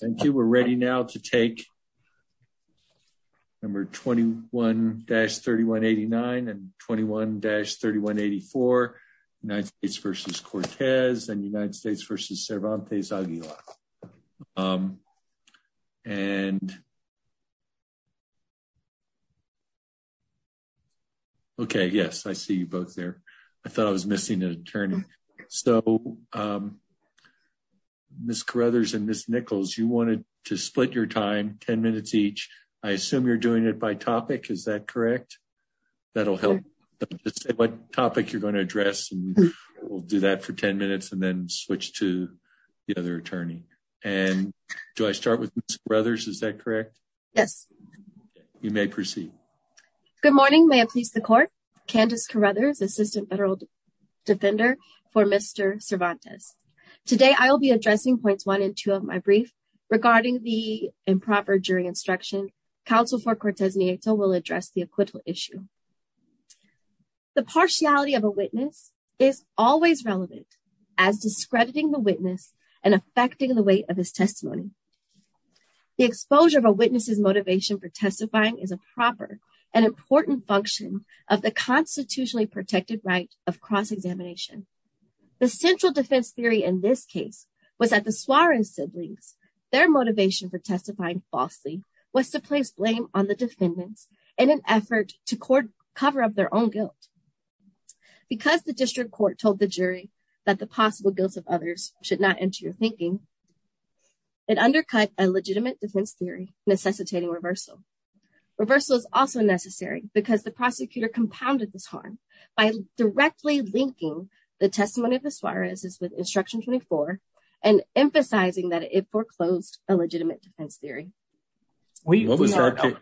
Thank you. We're ready now to take number 21-3189 and 21-3184, United States v. Cortez and United States v. Cervantes Aguilar. Okay, yes, I see you both there. I thought I was missing an attorney. So, Ms. Carruthers and Ms. Nichols, you wanted to split your time, 10 minutes each. I assume you're doing it by topic, is that correct? That'll help what topic you're going to address. We'll do that for 10 minutes and then switch to the other attorney. And do I start with Ms. Carruthers, is that correct? Yes. You may proceed. Good morning, may it please the court. Candice Carruthers, Assistant Federal Defender for Mr. Cervantes. Today, I will be addressing points one and two of my brief regarding the improper jury instruction. Counsel for Cortez-Nieto will address the acquittal issue. The partiality of a witness is always relevant as discrediting the witness and affecting the weight of his testimony. The exposure of a witness's motivation for testifying is a proper and important function of the constitutionally protected right of cross-examination. The central defense theory in this case was that the Suarez siblings, their motivation for testifying falsely was to place blame on the defendants in an effort to cover up their own guilt. Because the district court told the jury that the possible guilts of others should not enter your thinking, it undercut a legitimate defense theory necessitating reversal. Reversal is also necessary because the prosecutor compounded this harm by directly linking the testimony of the Suarez's with instruction 24 and emphasizing that it foreclosed a legitimate defense theory. What was our case?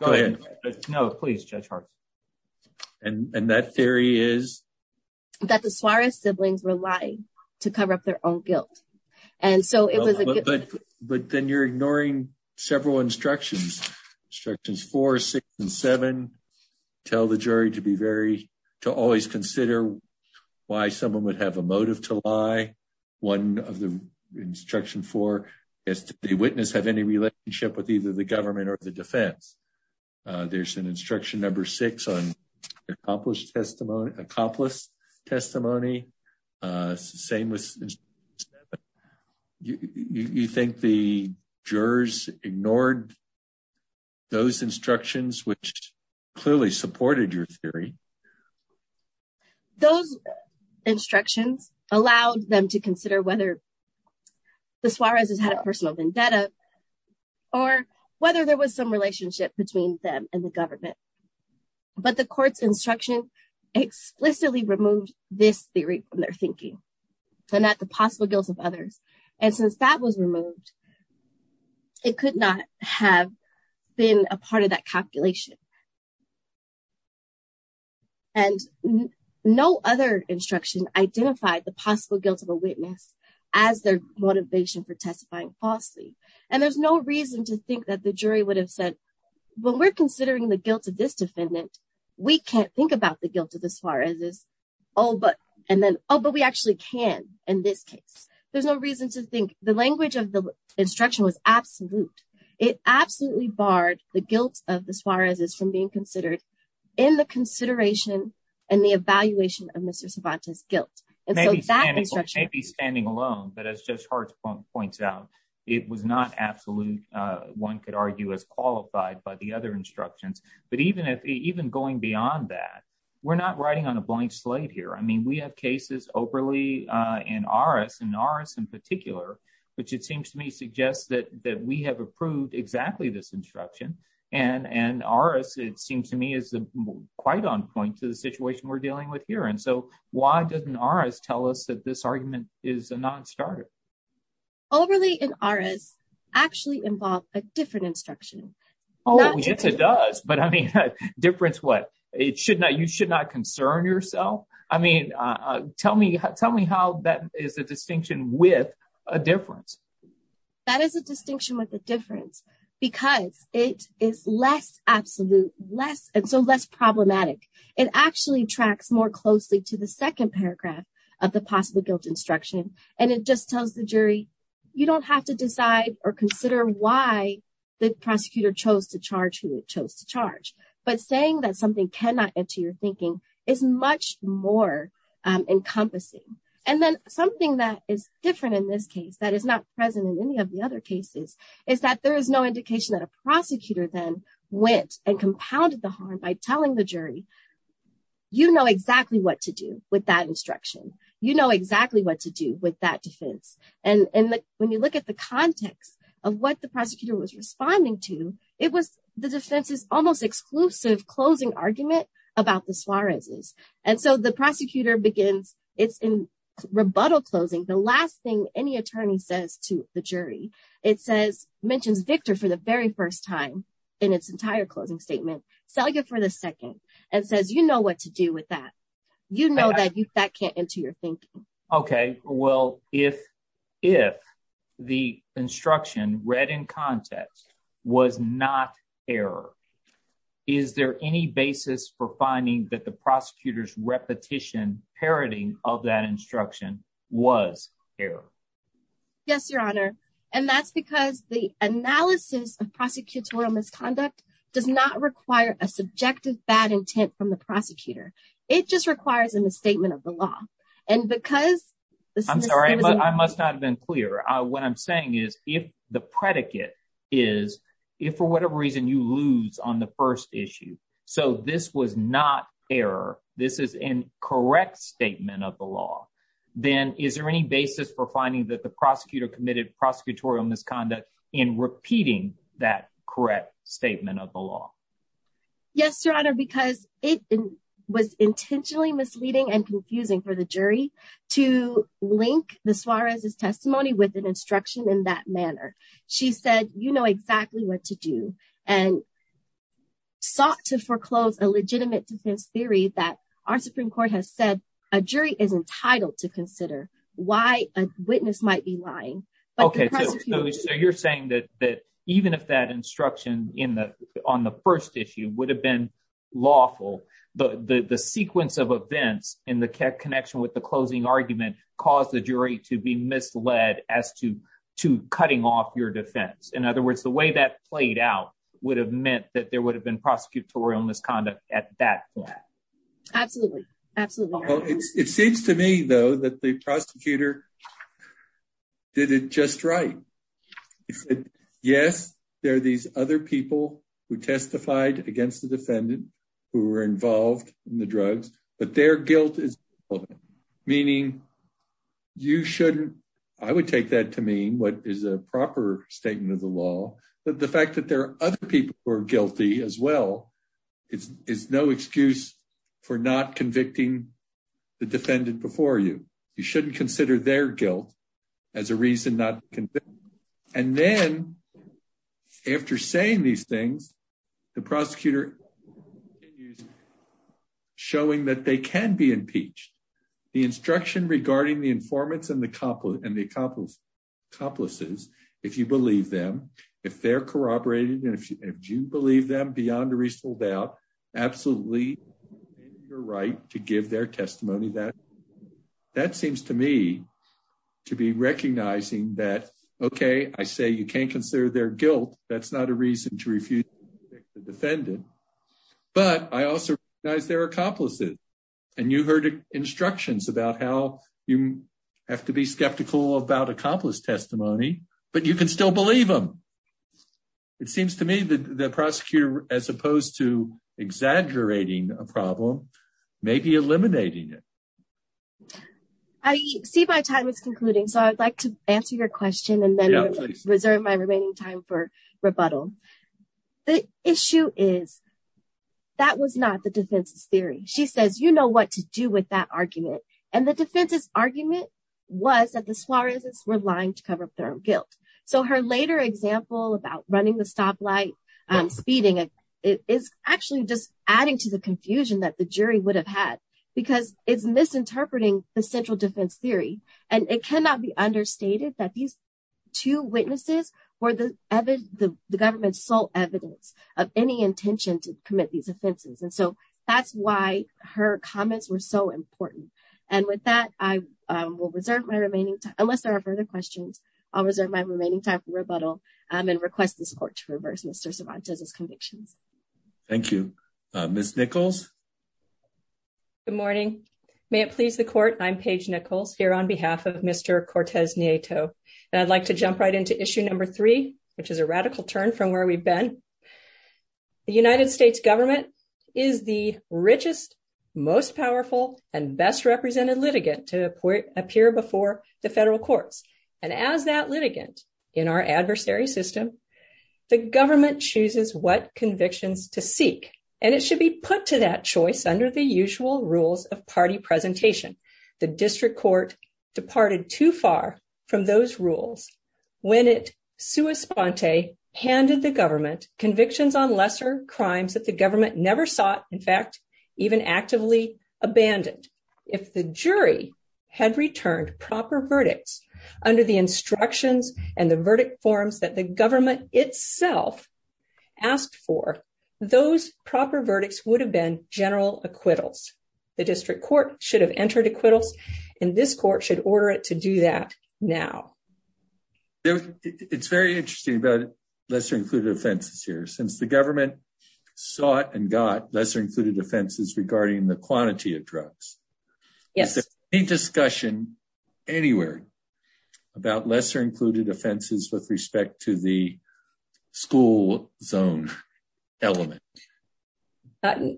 Go ahead. No, please, Judge Hart. And that theory is? That the Suarez siblings were lying to cover up their own guilt. And so it was a good... But then you're ignoring several instructions. Instructions four, six, and seven tell the jury to be very, to always consider why someone would have a motive to lie. One of the instruction four is that the witness have any relationship with either the government or the defense. There's an instruction number six on accomplished testimony, accomplished testimony. Same with... You think the jurors ignored those instructions, which clearly supported your theory? Those instructions allowed them to consider whether the Suarez's had a personal vendetta or whether there was some relationship between them and the government. But the court's instruction explicitly removed this theory from their thinking and that the possible guilt of others. And since that was removed, it could not have been a part of that calculation. And no other instruction identified the possible guilt of a witness as their motivation for testifying falsely. And there's no reason to think that the jury would have said, well, we're considering the guilt of this defendant. We can't think about the guilt of the Suarez's. Oh, but we actually can in this case. There's no reason to think the language of the instruction was absolute. It absolutely barred the guilt of the Suarez's from being in the consideration and the evaluation of Mr. Cervantes' guilt. And so that instruction... Maybe standing alone, but as Judge Hart points out, it was not absolute, one could argue as qualified by the other instructions. But even going beyond that, we're not riding on a blank slate here. I mean, we have cases overly in ARAS, in ARAS in particular, which it seems to me that we have approved exactly this instruction. And ARAS, it seems to me is quite on point to the situation we're dealing with here. And so why doesn't ARAS tell us that this argument is a non-starter? Overly in ARAS actually involved a different instruction. Oh, yes, it does. But I mean, difference what? You should not concern yourself. I mean, tell me how that is a distinction with a difference. That is a distinction with a difference because it is less absolute and so less problematic. It actually tracks more closely to the second paragraph of the possible guilt instruction. And it just tells the jury, you don't have to decide or consider why the prosecutor chose to charge who it chose to charge. But saying that something cannot enter your thinking is much more encompassing. And then something that is different in this case that is not present in any of the other cases is that there is no indication that a prosecutor then went and compounded the harm by telling the jury, you know exactly what to do with that instruction. You know exactly what to do with that defense. And when you look at the context of what the the prosecutor begins, it's in rebuttal closing. The last thing any attorney says to the jury, it says, mentions Victor for the very first time in its entire closing statement, sell you for the second and says, you know what to do with that. You know that that can't enter your thinking. OK, well, if if the instruction read in context was not error, is there any basis for finding that the prosecutor's repetition parroting of that instruction was error? Yes, your honor. And that's because the analysis of prosecutorial misconduct does not require a subjective bad intent from the prosecutor. It just requires a misstatement of the law. And because I'm sorry, I must not have been clear. What I'm saying is if the predicate is if for whatever reason you lose on the first issue. So this was not error. This is incorrect statement of the law. Then is there any basis for finding that the prosecutor committed prosecutorial misconduct in repeating that correct statement of the law? Yes, your honor, because it was intentionally misleading and confusing for the jury to link the Suarez's testimony with an instruction in that manner. She said, you know exactly what to do and sought to foreclose a legitimate defense theory that our Supreme Court has said a jury is entitled to consider why a witness might be lying. OK, so you're saying that that even if that instruction in the on the first issue would have been lawful, but the sequence of events in the connection with the closing argument caused the jury to be misled as to to cutting off your defense. In other words, the way that played out would have meant that there would have been prosecutorial misconduct at that point. Absolutely, absolutely. It seems to me, though, that the prosecutor did it just right. He said, yes, there are these other people who testified against the defendant who were involved in the drugs, but their guilt is relevant, meaning you shouldn't. I would take that to mean what is a proper statement of the law. But the fact that there are other people who are guilty as well is is no excuse for not convicting the defendant before you. You shouldn't consider their guilt as a reason not to. And then after saying these things, the prosecutor showing that they can be impeached. The instruction regarding the informants and the couple and the accomplices, if you believe them, if they're corroborated and if you believe them beyond a reasonable doubt, absolutely right to give their testimony that that seems to me to be recognizing that, OK, I say you can't consider their guilt. That's not a reason to refuse the defendant. But I also recognize their accomplices. And you heard instructions about how you have to be skeptical about accomplice testimony, but you can still believe them. It seems to me that the prosecutor, as opposed to exaggerating a problem, maybe eliminating it. I see my time is concluding, so I'd like to answer your question and then reserve my remaining time for rebuttal. The issue is that was not the defense's theory. She says, you know what to do with that argument. And the defense's argument was that the Suarez were lying to cover up their guilt. So her later example about running the stoplight and speeding, it is actually just interpreting the central defense theory. And it cannot be understated that these two witnesses were the evidence, the government's sole evidence of any intention to commit these offenses. And so that's why her comments were so important. And with that, I will reserve my remaining time unless there are further questions. I'll reserve my remaining time for rebuttal and request this court to reverse Mr. Cervantes's convictions. Thank you, Ms. Nichols. Good morning. May it please the court, I'm Paige Nichols here on behalf of Mr. Cortez Nieto. And I'd like to jump right into issue number three, which is a radical turn from where we've been. The United States government is the richest, most powerful, and best represented litigant to appear before the federal courts. And as that litigant in our adversary system, the government chooses what convictions to seek. And it should be put to that choice under the usual rules of party presentation. The district court departed too far from those rules when it sua sponte handed the government convictions on lesser crimes that the government never sought, in fact, even actively abandoned. If the jury had returned proper verdicts under the instructions and the asked for, those proper verdicts would have been general acquittals. The district court should have entered acquittals, and this court should order it to do that now. It's very interesting about lesser-included offenses here, since the government sought and got lesser-included offenses regarding the quantity of drugs. Is there any discussion anywhere about lesser-included offenses with respect to the school zone element?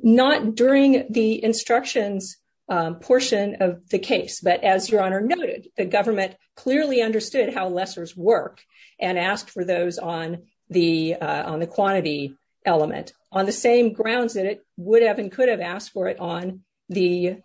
Not during the instructions portion of the case, but as your honor noted, the government clearly understood how lessers work and asked for those on the quantity element on the same grounds that it would have and could have asked for it on the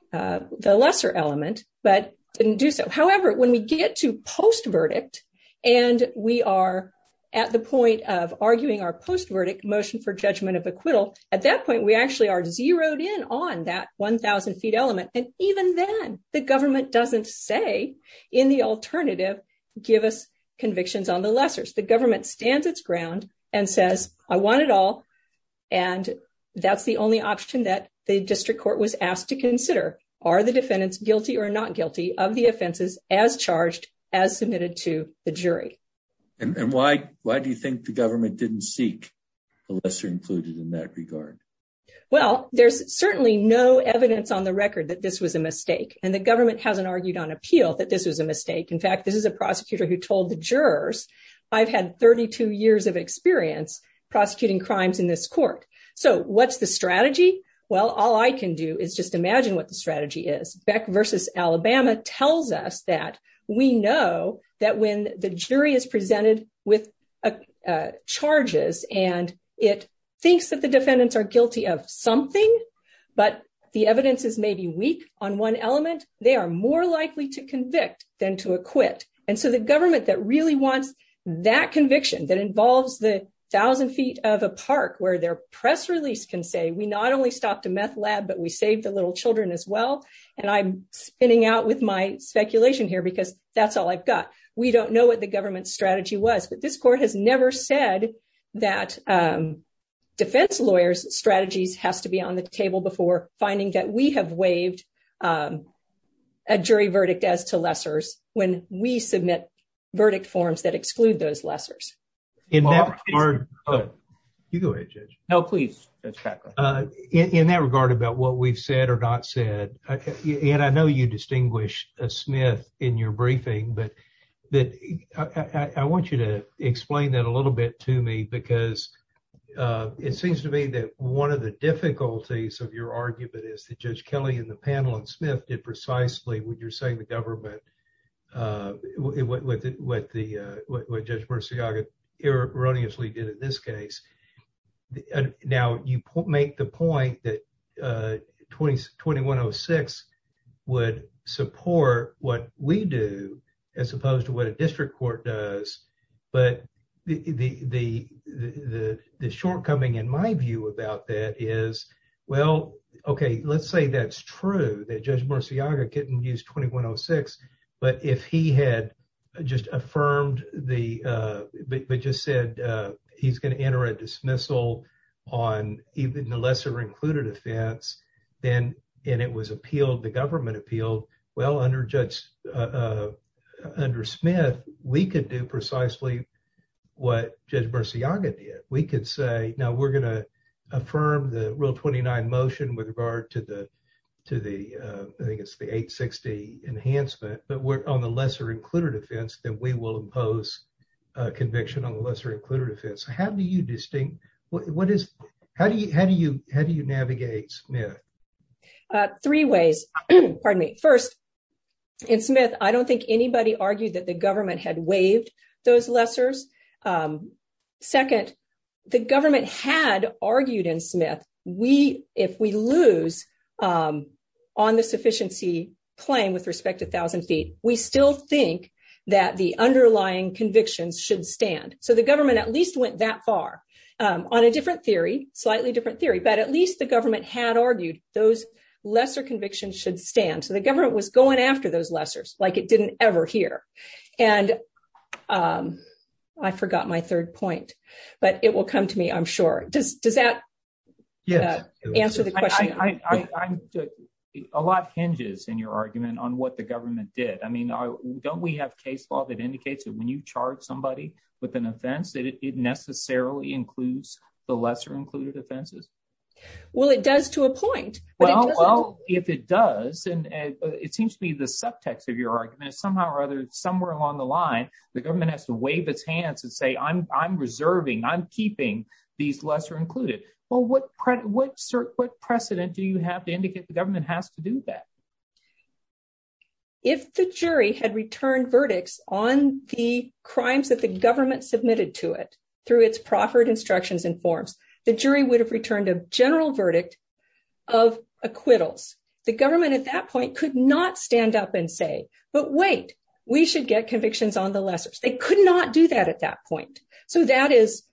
lesser element, but didn't do so. However, when we get to post-verdict, and we are at the point of arguing our post-verdict motion for judgment of acquittal, at that point we actually are zeroed in on that 1,000 feet element. And even then, the government doesn't say in the alternative, give us convictions on the lessers. The government stands its ground and says, I want it all, and that's the only option that the district court was asked to consider. Are the defendants guilty or not guilty of the offenses as charged, as submitted to the jury? And why do you think the government didn't seek a lesser-included in that regard? Well, there's certainly no evidence on the record that this was a mistake, and the government hasn't argued on appeal that this was a mistake. In fact, this is a prosecutor who told the jurors, I've had 32 years of experience prosecuting crimes in this court. So what's the strategy? Well, all I can do is just imagine what the strategy is. Beck v. Alabama tells us that we know that when the jury is presented with charges, and it thinks that the defendants are guilty of something, but the evidence is maybe weak on one element, they are more likely to convict than to acquit. And so the government that really wants that conviction, that involves the thousand feet of a park where their press release can say, we not only stopped a meth lab, but we saved the little children as well. And I'm spinning out with my speculation here because that's all I've got. We don't know what the government's strategy was, but this court has never said that defense lawyers' strategies has to be on the table before finding that we have waived a jury verdict as to lessers when we submit verdict forms that exclude those lessers. In that regard, about what we've said or not said, and I know you distinguish Smith in your briefing, but I want you to explain that a little bit to me because it seems to me that one of the difficulties of your argument is that Judge Kelly and the panel and Smith did precisely what you're saying the government, what Judge Murciaga erroneously did in this case. Now you make the point that 2106 would support what we do as opposed to what a district court does. But the shortcoming in my view about that is, well, okay, let's say that's true, that Judge Murciaga didn't use 2106, but if he had just affirmed, but just said he's going to enter a dismissal on even the lesser included offense, and it was appealed, the government appealed, well, under Smith, we could do precisely what Judge Murciaga did. We could say, now we're going to affirm the Rule 29 motion with regard to the, I think it's the 860 enhancement, but we're on the lesser included offense, then we will impose a conviction on the lesser included offense. How do you distinct, what is, how do you navigate Smith? Three ways, pardon me. First, in Smith, I don't think anybody argued that the government had waived those lessers. Second, the government had argued in Smith, we, if we lose on the sufficiency claim with respect to 1,000 feet, we still think that the underlying convictions should stand. So the government at least went that far on a different theory, slightly different theory, but at least the government had argued those lesser convictions should stand. So the government was going after those lessers like it didn't ever hear. And I forgot my third point, but it will come to me, I'm sure. Does that answer the question? A lot hinges in your argument on what the government did. I mean, don't we have case law that indicates that when you charge somebody with an offense, that it necessarily includes the lesser included offenses? Well, it does to a point. Well, if it does, and it seems to be the subtext of your argument, somehow or other, somewhere along the line, the government has to wave its hands and say, I'm, I'm reserving, I'm keeping these lesser included. Well, what, what sort, what precedent do you have to indicate the government has to do that? If the jury had returned verdicts on the crimes that the government submitted to it through its proffered instructions and forms, the jury would have returned a general verdict of acquittals. The government at that point could not stand up and say, but wait, we should get convictions on the lessers. They could not do that at that point. So that is,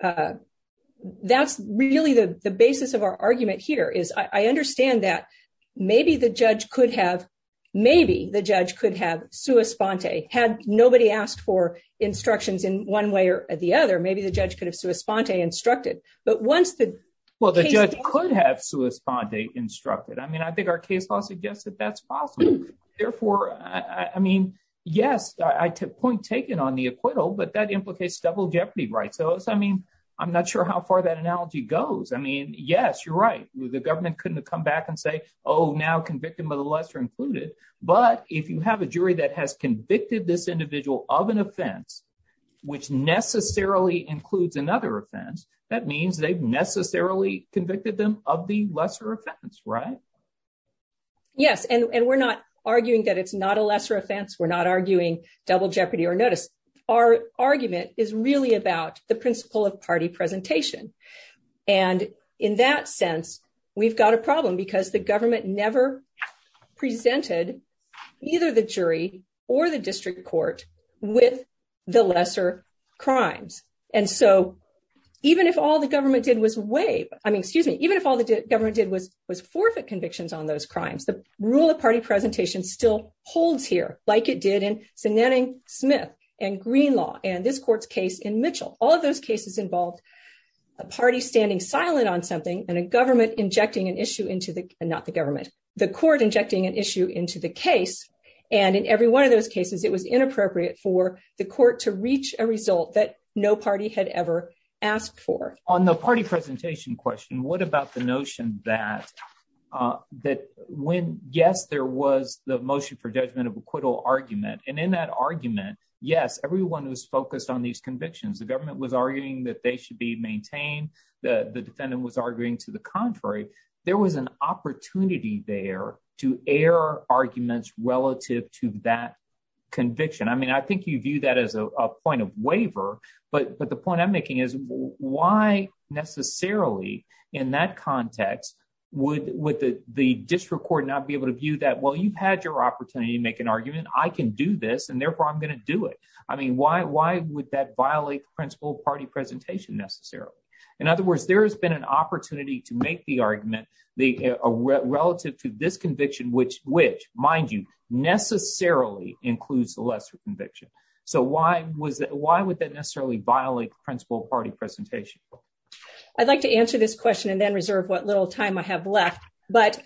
that's really the, the basis of our argument here is I understand that maybe the judge could have, maybe the judge could have sua sponte, had nobody asked for but once the, well, the judge could have sua sponte instructed. I mean, I think our case law suggests that that's possible. Therefore, I mean, yes, I took point taken on the acquittal, but that implicates double jeopardy, right? So it's, I mean, I'm not sure how far that analogy goes. I mean, yes, you're right. The government couldn't have come back and say, oh, now convicted by the lesser included. But if you have a jury that has convicted this individual of an offense, which necessarily includes another offense, that means they've necessarily convicted them of the lesser offense, right? Yes. And we're not arguing that it's not a lesser offense. We're not arguing double jeopardy or notice. Our argument is really about the principle of party presentation. And in that sense, we've got a problem because the government never presented either the jury or the district court with the lesser crimes. And so even if all the government did was waive, I mean, excuse me, even if all the government did was forfeit convictions on those crimes, the rule of party presentation still holds here like it did in Zanetting-Smith and Greenlaw and this court's case in Mitchell. All of those cases involved a party standing silent on something and a government injecting an issue into the, not the government, the court injecting an issue into the one of those cases, it was inappropriate for the court to reach a result that no party had ever asked for. On the party presentation question, what about the notion that, that when, yes, there was the motion for judgment of acquittal argument, and in that argument, yes, everyone was focused on these convictions. The government was arguing that they should be maintained. The defendant was arguing to the contrary. There was an opportunity there to arguments relative to that conviction. I mean, I think you view that as a point of waiver, but the point I'm making is why necessarily in that context would the district court not be able to view that, well, you've had your opportunity to make an argument, I can do this, and therefore I'm going to do it. I mean, why would that violate the principle of party presentation necessarily? In other words, there has been an opportunity to make the argument relative to this conviction, which, mind you, necessarily includes the lesser conviction. So why would that necessarily violate principle of party presentation? I'd like to answer this question and then reserve what little time I have left, but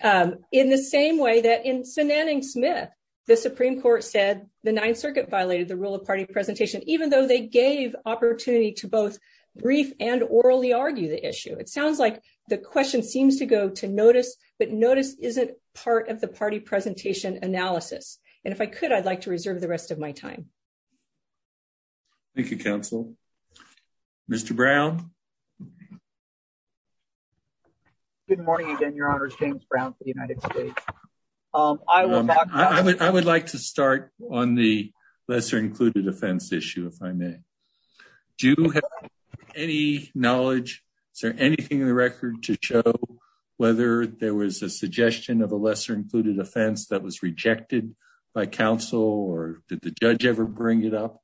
in the same way that in Sinanning-Smith, the Supreme Court said the Ninth Circuit violated the rule of party presentation, even though they gave opportunity to both brief and orally argue the issue. It sounds like the question seems to go to notice, but notice isn't part of the party presentation analysis. And if I could, I'd like to reserve the rest of my time. Thank you, counsel. Mr. Brown? Good morning again, Your Honors. James Brown for the United States. I would like to start on the lesser included offense issue, if I may. Do you have any knowledge? Is there anything in the record to show whether there was a suggestion of a lesser included offense that was rejected by counsel or did the judge ever bring it up?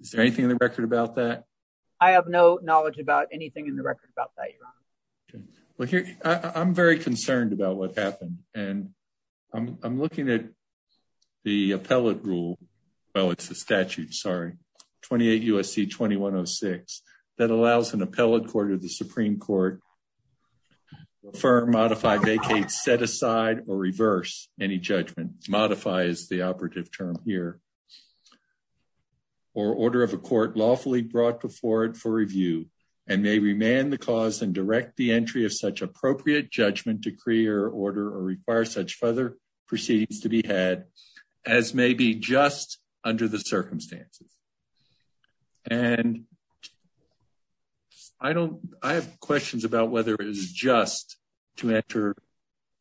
Is there anything in the record about that? I have no knowledge about anything in the record about that, Your Honor. Well, I'm very concerned about what happened and I'm looking at the appellate rule. Well, it's the statute, sorry. 28 U.S.C. 2106. That allows an appellate court or the Supreme Court to affirm, modify, vacate, set aside, or reverse any judgment. Modify is the operative term here. Or order of a court lawfully brought before it for review and may remand the cause and direct the entry of such appropriate judgment, decree, or order, or require such further proceedings to be as may be just under the circumstances. And I have questions about whether it is just to enter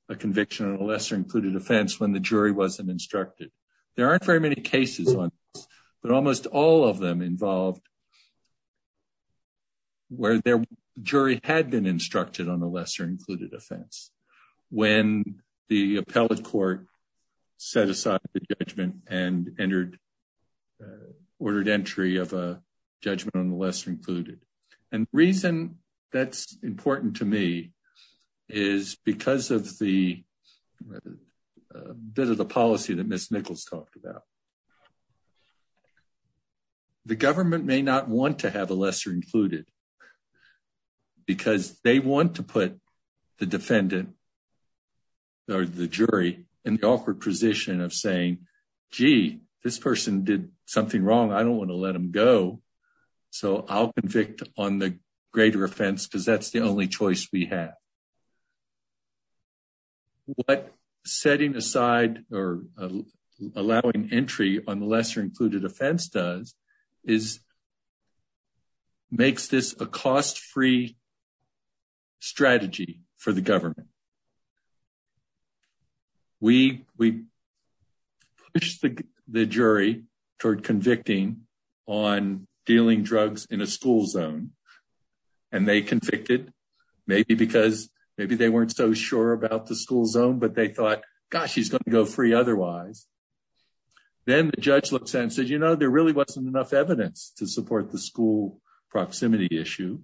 a conviction on a lesser included offense when the jury wasn't instructed. There aren't very many cases on this, but almost all of them involved where their jury had been instructed on a lesser included offense. When the appellate court set aside the judgment and ordered entry of a judgment on the lesser included. And the reason that's important to me is because of the bit of the policy that Ms. Nichols talked about. The government may not want to have a lesser included offense because they want to put the defendant or the jury in the awkward position of saying, gee, this person did something wrong. I don't want to let them go. So I'll convict on the greater offense because that's the only choice we have. What setting aside or allowing entry on the lesser included offense does is it makes this a cost-free strategy for the government. We push the jury toward convicting on dealing drugs in a school zone. And they convicted maybe because maybe they weren't so sure about the school zone, but they thought, gosh, he's going to go free otherwise. Then the judge looks and says, you know, there really wasn't enough evidence to support the school proximity issue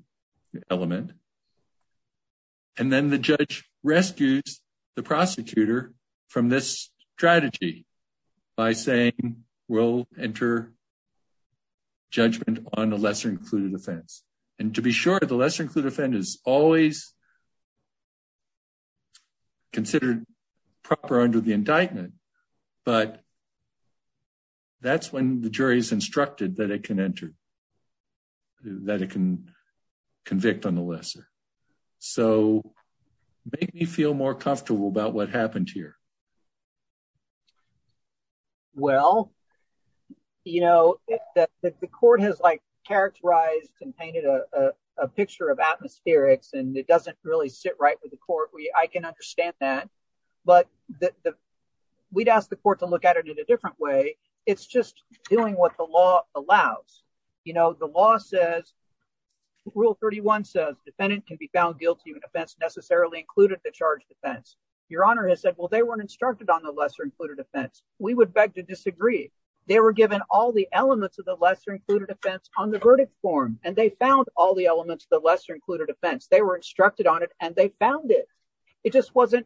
element. And then the judge rescues the prosecutor from this strategy by saying, we'll enter judgment on the lesser included offense. And to be sure, the lesser included offense is always considered proper under the indictment. But that's when the jury is instructed that it can enter, that it can convict on the lesser. So make me feel more comfortable about what happened here. Well, you know, the court has like characterized and painted a picture of atmospherics and it understands that. But we'd ask the court to look at it in a different way. It's just doing what the law allows. You know, the law says rule 31 says defendant can be found guilty of an offense necessarily included the charge defense. Your honor has said, well, they weren't instructed on the lesser included offense. We would beg to disagree. They were given all the elements of the lesser included offense on the verdict form. And they found all the elements of the lesser offense. They were instructed on it and they found it. It just wasn't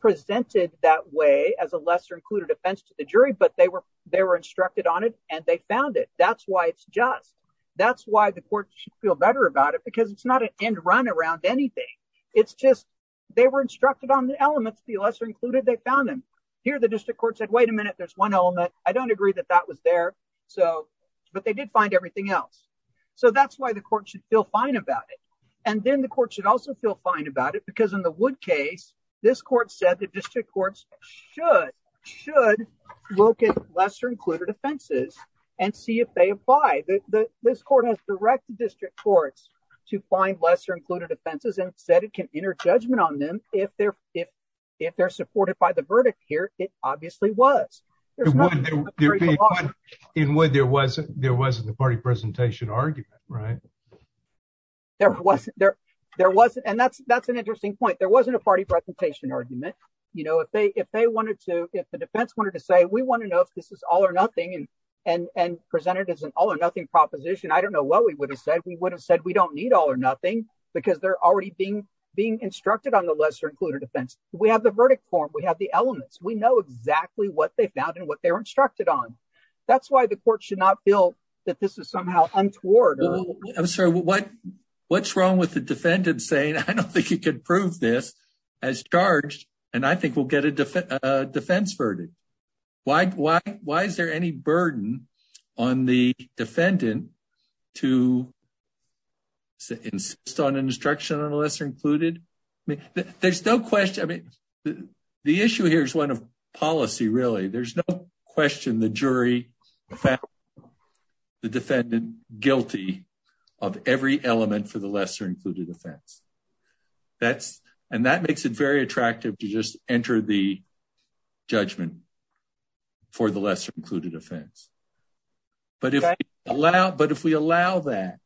presented that way as a lesser included offense to the jury, but they were, they were instructed on it and they found it. That's why it's just, that's why the court should feel better about it because it's not an end run around anything. It's just, they were instructed on the elements, the lesser included, they found them here. The district court said, wait a minute, there's one element. I don't agree that that was there. So, but they did find everything else. So that's why the court should feel fine about it. And then the court should also feel fine about it because in the wood case, this court said the district courts should, should look at lesser included offenses and see if they apply. This court has direct district courts to find lesser included offenses and said it can enter judgment on them. If they're, if, if they're supported by the verdict here, it obviously was. In wood there wasn't, there wasn't a party presentation argument, right? There wasn't there, there wasn't. And that's, that's an interesting point. There wasn't a party presentation argument. You know, if they, if they wanted to, if the defense wanted to say, we want to know if this is all or nothing and, and, and presented as an all or nothing proposition, I don't know what we would have said. We would have said, we don't need all or nothing because they're already being, being instructed on the lesser included offense. We have the verdict form. We have the elements. We know exactly what they found and what they were instructed on. That's why the court should not feel that this is somehow untoward. I'm sorry. What, what's wrong with the defendant saying, I don't think you could prove this as charged. And I think we'll get a defense, a defense verdict. Why, why, why is there any burden on the defendant to insist on an instruction on the lesser included? I mean, there's no question. I mean, the issue here is one of policy. Really? There's no question. The jury found the defendant guilty of every element for the lesser included offense. That's, and that makes it very attractive to just enter the judgment for the lesser included offense. But if we allow, but if we allow that,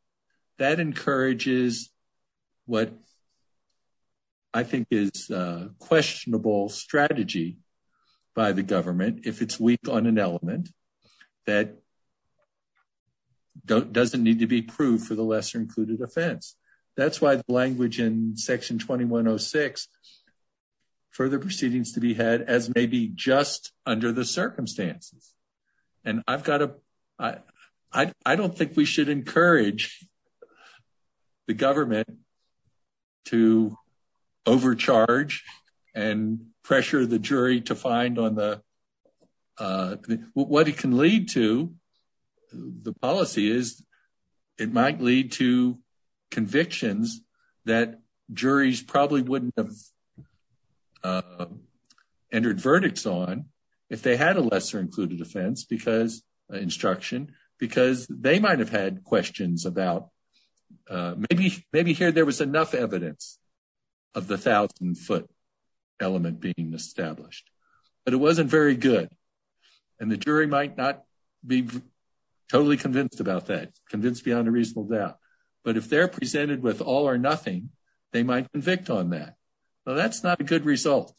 that encourages what I think is a questionable strategy by the government, if it's weak on an element that doesn't need to be proved for the lesser included offense. That's why the language in section 2106 further proceedings to be had as maybe just under the circumstances. And I've got to, I don't think we should encourage the government to overcharge and pressure the jury to find on the, what it can lead to the policy is it might lead to convictions that juries probably wouldn't have entered verdicts on if they had a lesser included offense because instruction, because they might have had questions about maybe, maybe here there was enough evidence of the thousand foot element being established, but it wasn't very good. And the jury might not be totally convinced about that convinced beyond a reasonable doubt, but if they're presented with all or nothing, they might convict on that. So that's not a good result.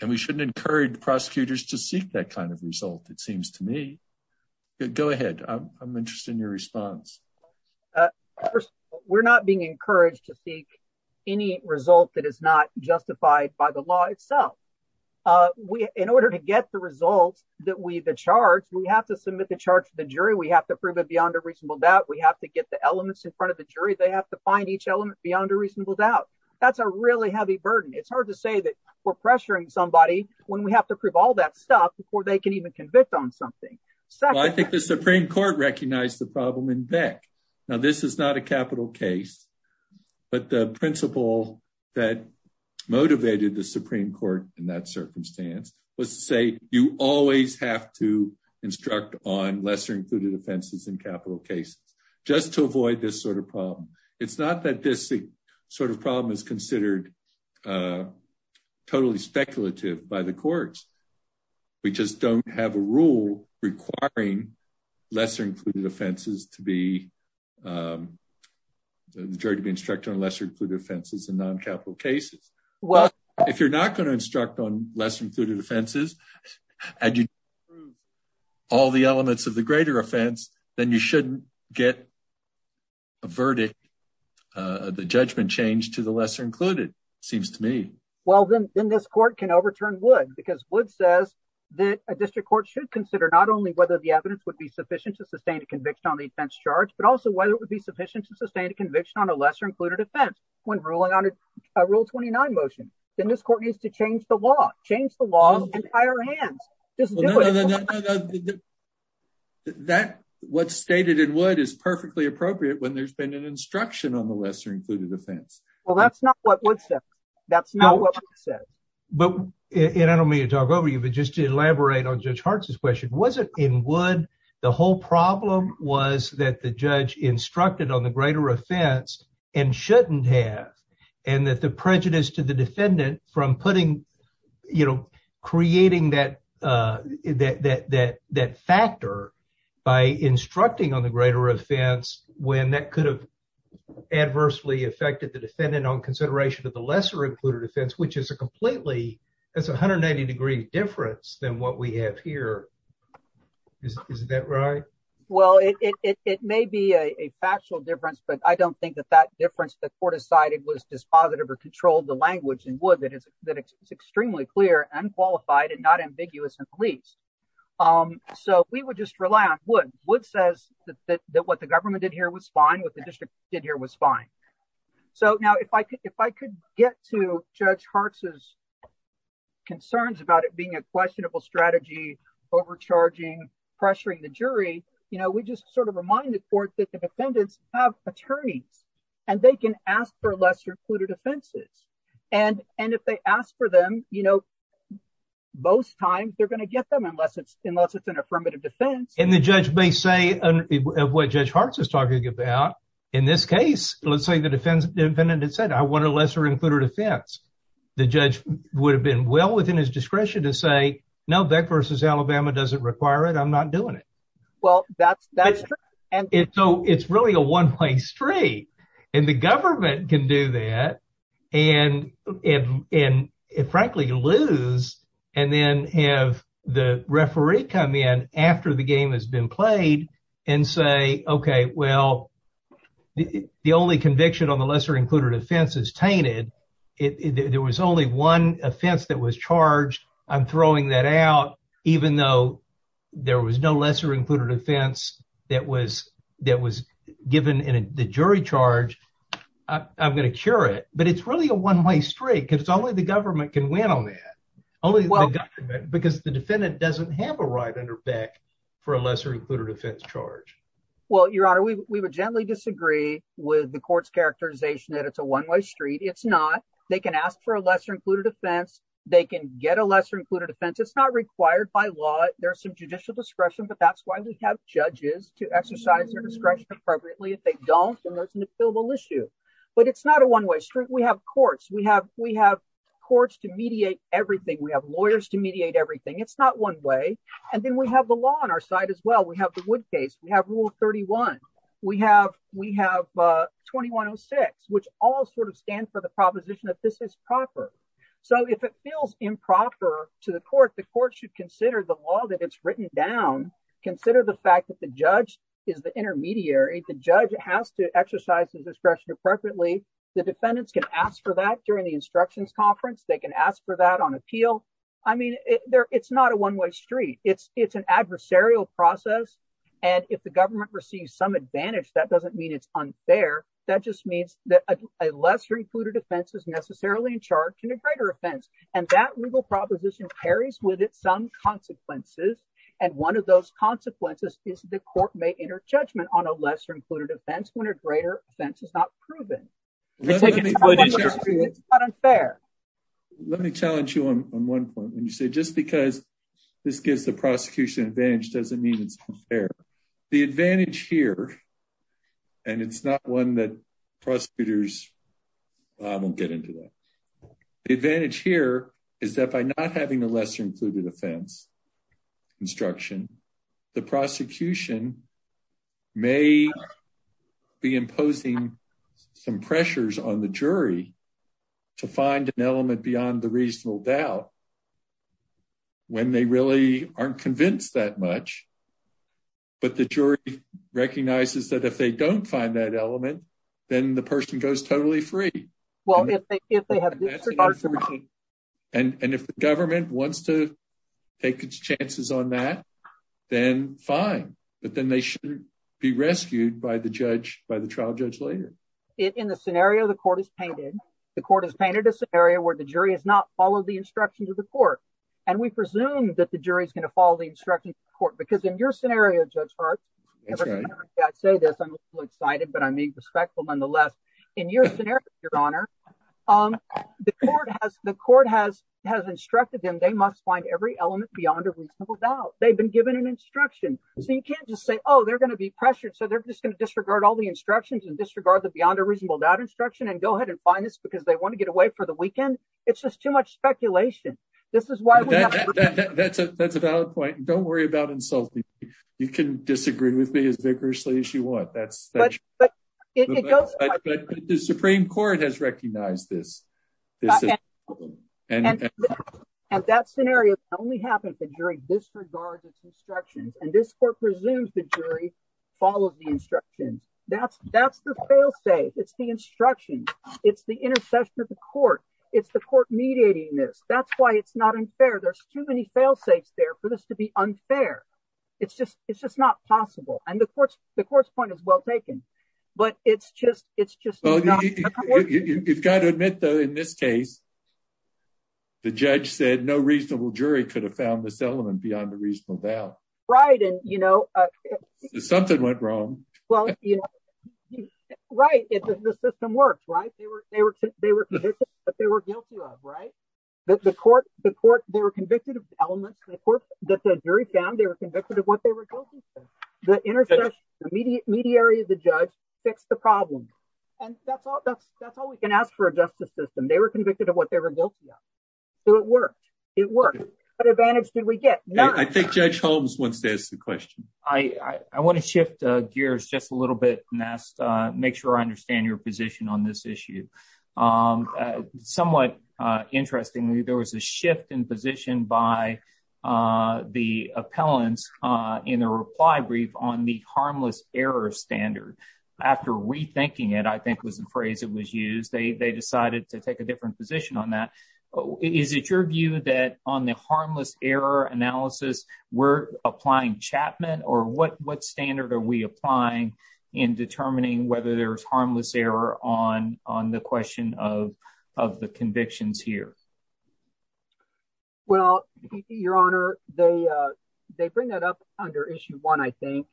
And we shouldn't encourage prosecutors to seek that kind of result. It seems to me, go ahead. I'm interested in your response. We're not being encouraged to seek any result that is not justified by the law itself. In order to get the results that we, the charge, we have to submit the charge to the jury. We have to prove it beyond a reasonable doubt. We have to get the elements in front of the jury. They have to find each element beyond a reasonable doubt. That's a really heavy burden. It's hard to say that we're pressuring somebody when we have to prove all that stuff before they can even convict on something. So I think the Supreme court recognized the problem in Beck. Now, this is not a capital case, but the principle that motivated the Supreme court in that circumstance was to say, you always have to instruct on lesser included offenses and capital cases just to avoid this sort of problem. It's not that this sort of problem is considered totally speculative by the courts. We just don't have a rule requiring lesser included offenses to be the jury to be instructed on lesser included offenses and non-capital cases. If you're not going to instruct on lesser included offenses, and you prove all the elements of the greater offense, then you shouldn't get a verdict, the judgment changed to the lesser included, seems to me. Well, then this court can overturn Wood because Wood says that a district court should consider not only whether the evidence would be sufficient to sustain a conviction on the offense charge, but also whether it would be sufficient to sustain a conviction on a lesser included offense when ruling on a rule 29 motion. Then this court needs to change the law, change the law in higher hands. What's stated in Wood is perfectly appropriate when there's been an instruction on the lesser included offense. Well, that's not what Wood said. That's not what Wood said. And I don't mean to talk over you, but just to elaborate on Judge Hart's question, was it in Wood, the whole problem was that the judge instructed on the greater offense and shouldn't have, and that the prejudice to the defendant from creating that factor by instructing on the greater offense, when that could have adversely affected the defendant on consideration of the lesser included offense, which is a completely, that's a 190 degree difference than what we have here. Is that right? Well, it may be a factual difference, but I don't think that that difference that court decided was dispositive or controlled the language in Wood that it's extremely clear and qualified and not ambiguous in police. So we would just rely on Wood. Wood says that what the government did here was fine, what the district did here was fine. So now if I could get to Judge Hart's concerns about it being a questionable strategy, overcharging, pressuring the jury, you know, we just sort of remind the court that the defendants have attorneys and they can ask for lesser included offenses. And if they ask for them, you know, most times they're going to get them unless it's an affirmative defense. And the judge may say of what Judge Hart's is talking about, in this case, let's say the defendant had said, I want a lesser included offense. The judge would have been well within his discretion to say, no, Beck versus Alabama doesn't require it. I'm not doing it. Well, that's, that's true. And so it's really a one way street and the government can do that. And, and it frankly lose and then have the referee come in after the game has been played and say, okay, well, the only conviction on the lesser included offense is tainted. There was only one offense that was charged. I'm throwing that out, even though there was no lesser included offense that was, that was given in the jury charge. I'm going to cure it, but it's really a one way street because only the government can win on that. Only because the defendant doesn't have a right under Beck for a lesser included offense charge. Well, Your Honor, we would gently disagree with the court's characterization that it's one way street. It's not, they can ask for a lesser included offense. They can get a lesser included offense. It's not required by law. There's some judicial discretion, but that's why we have judges to exercise their discretion appropriately. If they don't, then there's an appealable issue, but it's not a one way street. We have courts, we have, we have courts to mediate everything. We have lawyers to mediate everything. It's not one way. And then we have the law on our side as well. We have the wood case. We have rule 31. We have, we have a 2106, which all sort of stand for the proposition that this is proper. So if it feels improper to the court, the court should consider the law that it's written down. Consider the fact that the judge is the intermediary. The judge has to exercise his discretion appropriately. The defendants can ask for that during the instructions conference. They can ask for that on appeal. I mean, it's not a one way street. It's, it's an adversarial process. And if the government receives some advantage, that doesn't mean it's unfair. That just means that a lesser included offense is necessarily in charge and a greater offense. And that legal proposition carries with it some consequences. And one of those consequences is the court may enter judgment on a lesser included offense when a greater offense is not proven. It's not unfair. Let me challenge you on one point when you say, just because this gives the prosecution advantage, doesn't mean it's unfair. The advantage here, and it's not one that prosecutors, I won't get into that. The advantage here is that by not having a lesser included offense instruction, the prosecution may be imposing some pressures on the jury to find an element beyond the reasonable doubt when they really aren't convinced that much. But the jury recognizes that if they don't find that element, then the person goes totally free. And if the government wants to take its chances on that, then fine. But then they shouldn't be rescued by the judge, by the trial judge later. In the scenario, the court is painted. The court has painted a scenario where the jury has not followed the instruction to the court. And we presume that the jury is going to follow the instruction court because in your scenario, Judge Hart, I say this, I'm excited, but I mean, respectful nonetheless, in your scenario, your honor, the court has the court has, has instructed them. They must find every element beyond a reasonable doubt. They've been given an instruction. So you can't just say, oh, they're going to be pressured. So they're just going to disregard all the instructions and disregard the beyond a reasonable doubt instruction and go ahead and find this because they want to get away for the weekend. It's just too much speculation. This is why that's a valid point. Don't worry about insulting. You can disagree with me as that scenario only happens in jury disregards instructions. And this court presumes the jury follows the instruction. That's, that's the fail safe. It's the instruction. It's the intercession of the court. It's the court mediating this. That's why it's not unfair. There's too many fail safes there for this to be unfair. It's just, it's just not possible. And the courts, the court's point is well taken, but it's just, it's just, you've got to admit though, in this case, the judge said no reasonable jury could have found this element beyond the reasonable doubt. Right. And you know, something went wrong. Well, you know, right. If the system works, right. They were, they were, they were, but they were guilty of right. That the court, the court, they were convicted of elements that the jury found they were convicted of what they were guilty of. The intercession, the media, mediary of the judge fixed the problem. And that's all, that's, that's all we can ask for a justice system. They were convicted of what they were guilty of. So it worked. It worked. What advantage did we get? I think judge Holmes wants to ask the question. I, I want to shift gears just a little bit and ask, make sure I understand your position on this issue. Somewhat interestingly, there was a shift in position by the appellants in a reply brief on the harmless error standard after rethinking it, I think was the phrase that was used. They, they decided to take a different position on that. Is it your view that on the harmless error analysis, we're applying Chapman or what, what standard are we applying in determining whether there's harmless error on, on the question of, of the convictions here? Well, your honor, they, they bring that up under issue one, I think.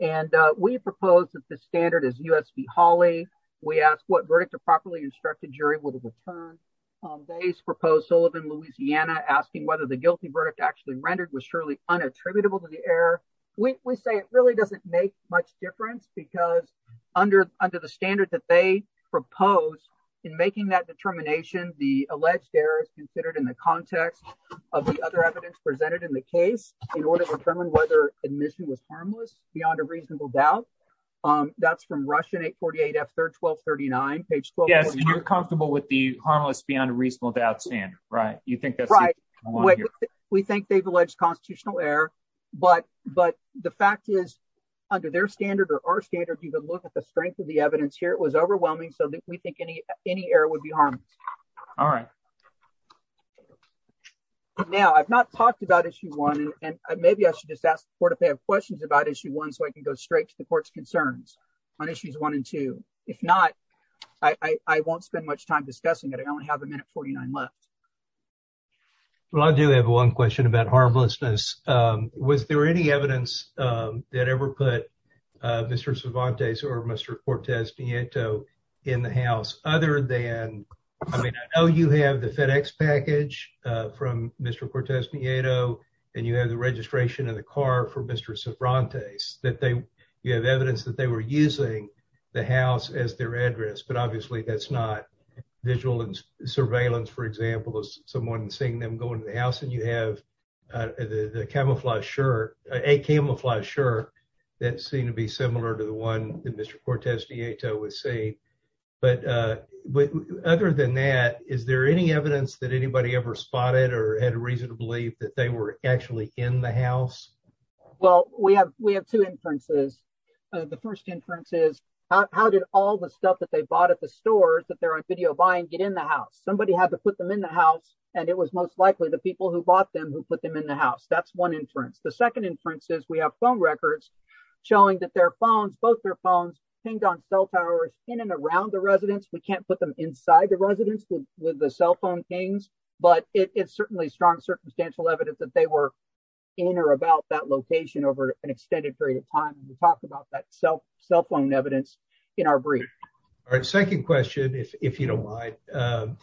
And we propose that the standard is USP Hawley. We asked what verdict a properly instructed jury would have returned. They proposed Sullivan, Louisiana, asking whether the guilty verdict actually rendered was surely unattributable to the error. We say it really doesn't make much difference because under, under the standard that they propose in making that determination, the alleged error is considered in the context of the other evidence presented in the case in order to determine whether admission was harmless beyond a reasonable doubt. That's from Russian eight 48 F third, 1239 page 12. Yes. You're comfortable with the harmless beyond a reasonable doubt standard, right? You think that's right. We think they've alleged constitutional error, but, but the fact is under their standard or our standard, you can look at the strength of the evidence here. It was overwhelming. So we think any, any error would be harmless. All right. Now I've not talked about issue one and maybe I should just ask the court if they have questions about issue one, so I can go straight to the court's concerns on issues one and two. If not, I won't spend much time discussing it. I only have a minute 49 left. Well, I do have one question about harmlessness. Um, was there any evidence, um, that ever put, uh, Mr. Cervantes or Mr. Cortez Nieto in the house other than, I mean, I know you have the FedEx package, uh, from Mr. Cortez Nieto and you have the registration of the car for Mr. Cervantes that they, you have evidence that they were using the house as their address, but obviously that's visual and surveillance, for example, as someone seeing them go into the house and you have, uh, the, the camouflage shirt, a camouflage shirt that seemed to be similar to the one that Mr. Cortez Nieto was saying. But, uh, other than that, is there any evidence that anybody ever spotted or had a reason to believe that they were actually in the house? Well, we have, we have two inferences. Uh, the first inference is how did all the stuff that they bought at the stores that they're on video buying get in the house? Somebody had to put them in the house and it was most likely the people who bought them who put them in the house. That's one inference. The second inference is we have phone records showing that their phones, both their phones pinged on cell towers in and around the residence. We can't put them inside the residence with the cell phone pings, but it is certainly strong circumstantial evidence that they were in or about that location over an extended period of time. And we talked about that cell, cell phone evidence in our brief. All right. Second question, if, if you don't mind, um,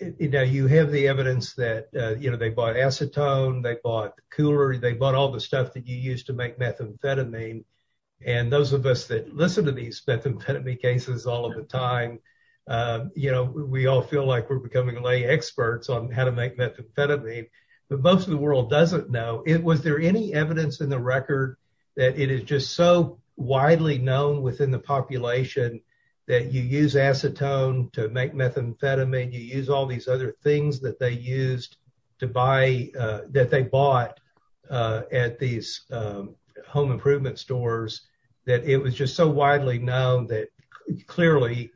you know, you have the evidence that, uh, you know, they bought acetone, they bought cooler, they bought all the stuff that you use to make methamphetamine. And those of us that listen to these methamphetamine cases all of the time, um, you know, we all feel like we're becoming lay experts on how to make methamphetamine, but most of the world doesn't know it. Was there any evidence in the record that it is just so widely known within the population that you use acetone to make methamphetamine, you use all these other things that they used to buy, uh, that they bought, uh, at these, um, home improvement stores that it was just so widely known that clearly,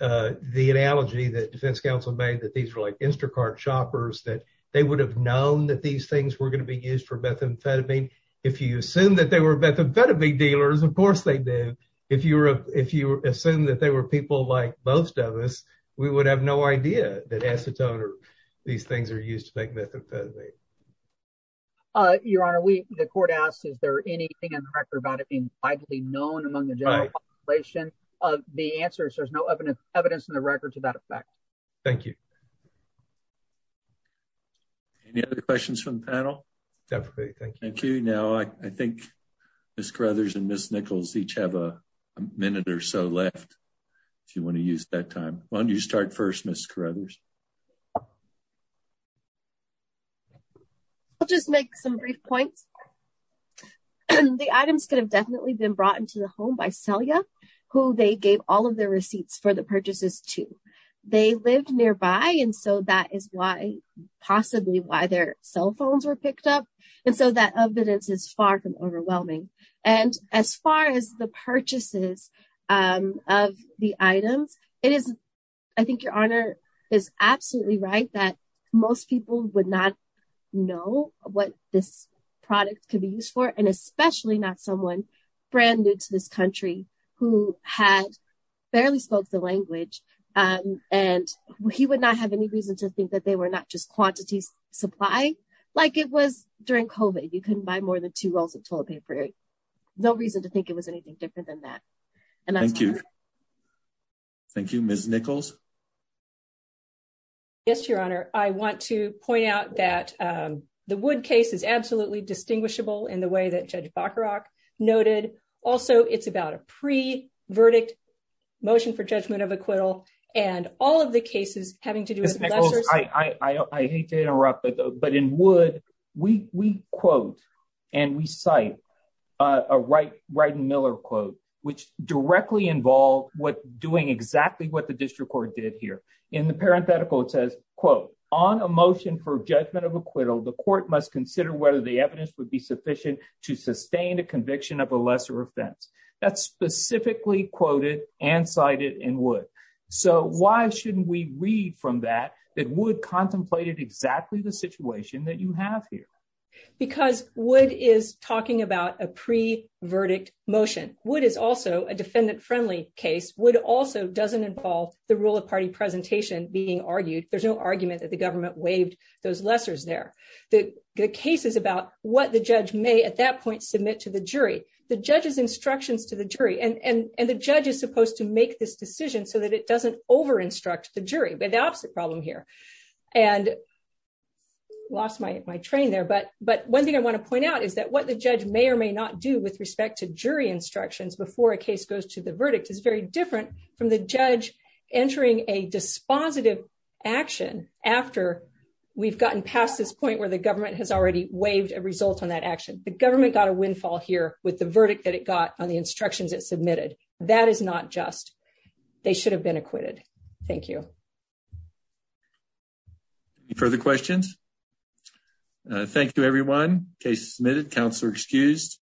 uh, the analogy that defense council made that these were like Instacart shoppers, that they would have known that these things were going to be used for methamphetamine. If you assume that they were methamphetamine dealers, of course they did. If you were, if you assume that they were people like most of us, we would have no idea that acetone or these things are used to make methamphetamine. Uh, your honor, we, the court asks, is there anything in the record about it being widely known among the general population of the answers? There's no evidence, evidence in the record to that effect. Thank you. Any other questions from the panel? Definitely. Thank you. Now, I, I think Ms. Carruthers and Ms. Nichols each have a minute or so left if you want to use that time. Why don't you start first, Ms. Carruthers? I'll just make some brief points. The items could have definitely been brought into the home by they lived nearby. And so that is why possibly why their cell phones were picked up. And so that evidence is far from overwhelming. And as far as the purchases of the items, it is, I think your honor is absolutely right that most people would not know what this product could be used for. And and he would not have any reason to think that they were not just quantities supply like it was during COVID. You couldn't buy more than two rolls of toilet paper. No reason to think it was anything different than that. And thank you. Thank you, Ms. Nichols. Yes, your honor. I want to point out that, um, the wood case is absolutely distinguishable in the way that Judge Bacharach noted. Also it's about a pre verdict motion for judgment of and all of the cases having to do with I hate to interrupt, but but in wood, we we quote, and we cite a right right and Miller quote, which directly involved what doing exactly what the district court did here in the parenthetical, it says, quote, on a motion for judgment of acquittal, the court must consider whether the evidence would be sufficient to sustain a conviction of a lesser offense that's specifically quoted and cited in wood. So why shouldn't we read from that, that would contemplated exactly the situation that you have here. Because what is talking about a pre verdict motion, what is also a defendant friendly case would also doesn't involve the rule of party presentation being argued, there's no argument that the government waived those lessers there. The case is about what the judge may at that point submit to the jury, the judges instructions to the jury and and the judge is supposed to make this decision so that it doesn't over instruct the jury, but the opposite problem here. And lost my train there. But But one thing I want to point out is that what the judge may or may not do with respect to jury instructions before a case goes to the verdict is very different from the judge entering a dispositive action after we've gotten past this point where the got a windfall here with the verdict that it got on the instructions that submitted. That is not just, they should have been acquitted. Thank you. Further questions. Thank you everyone case submitted counselor excused.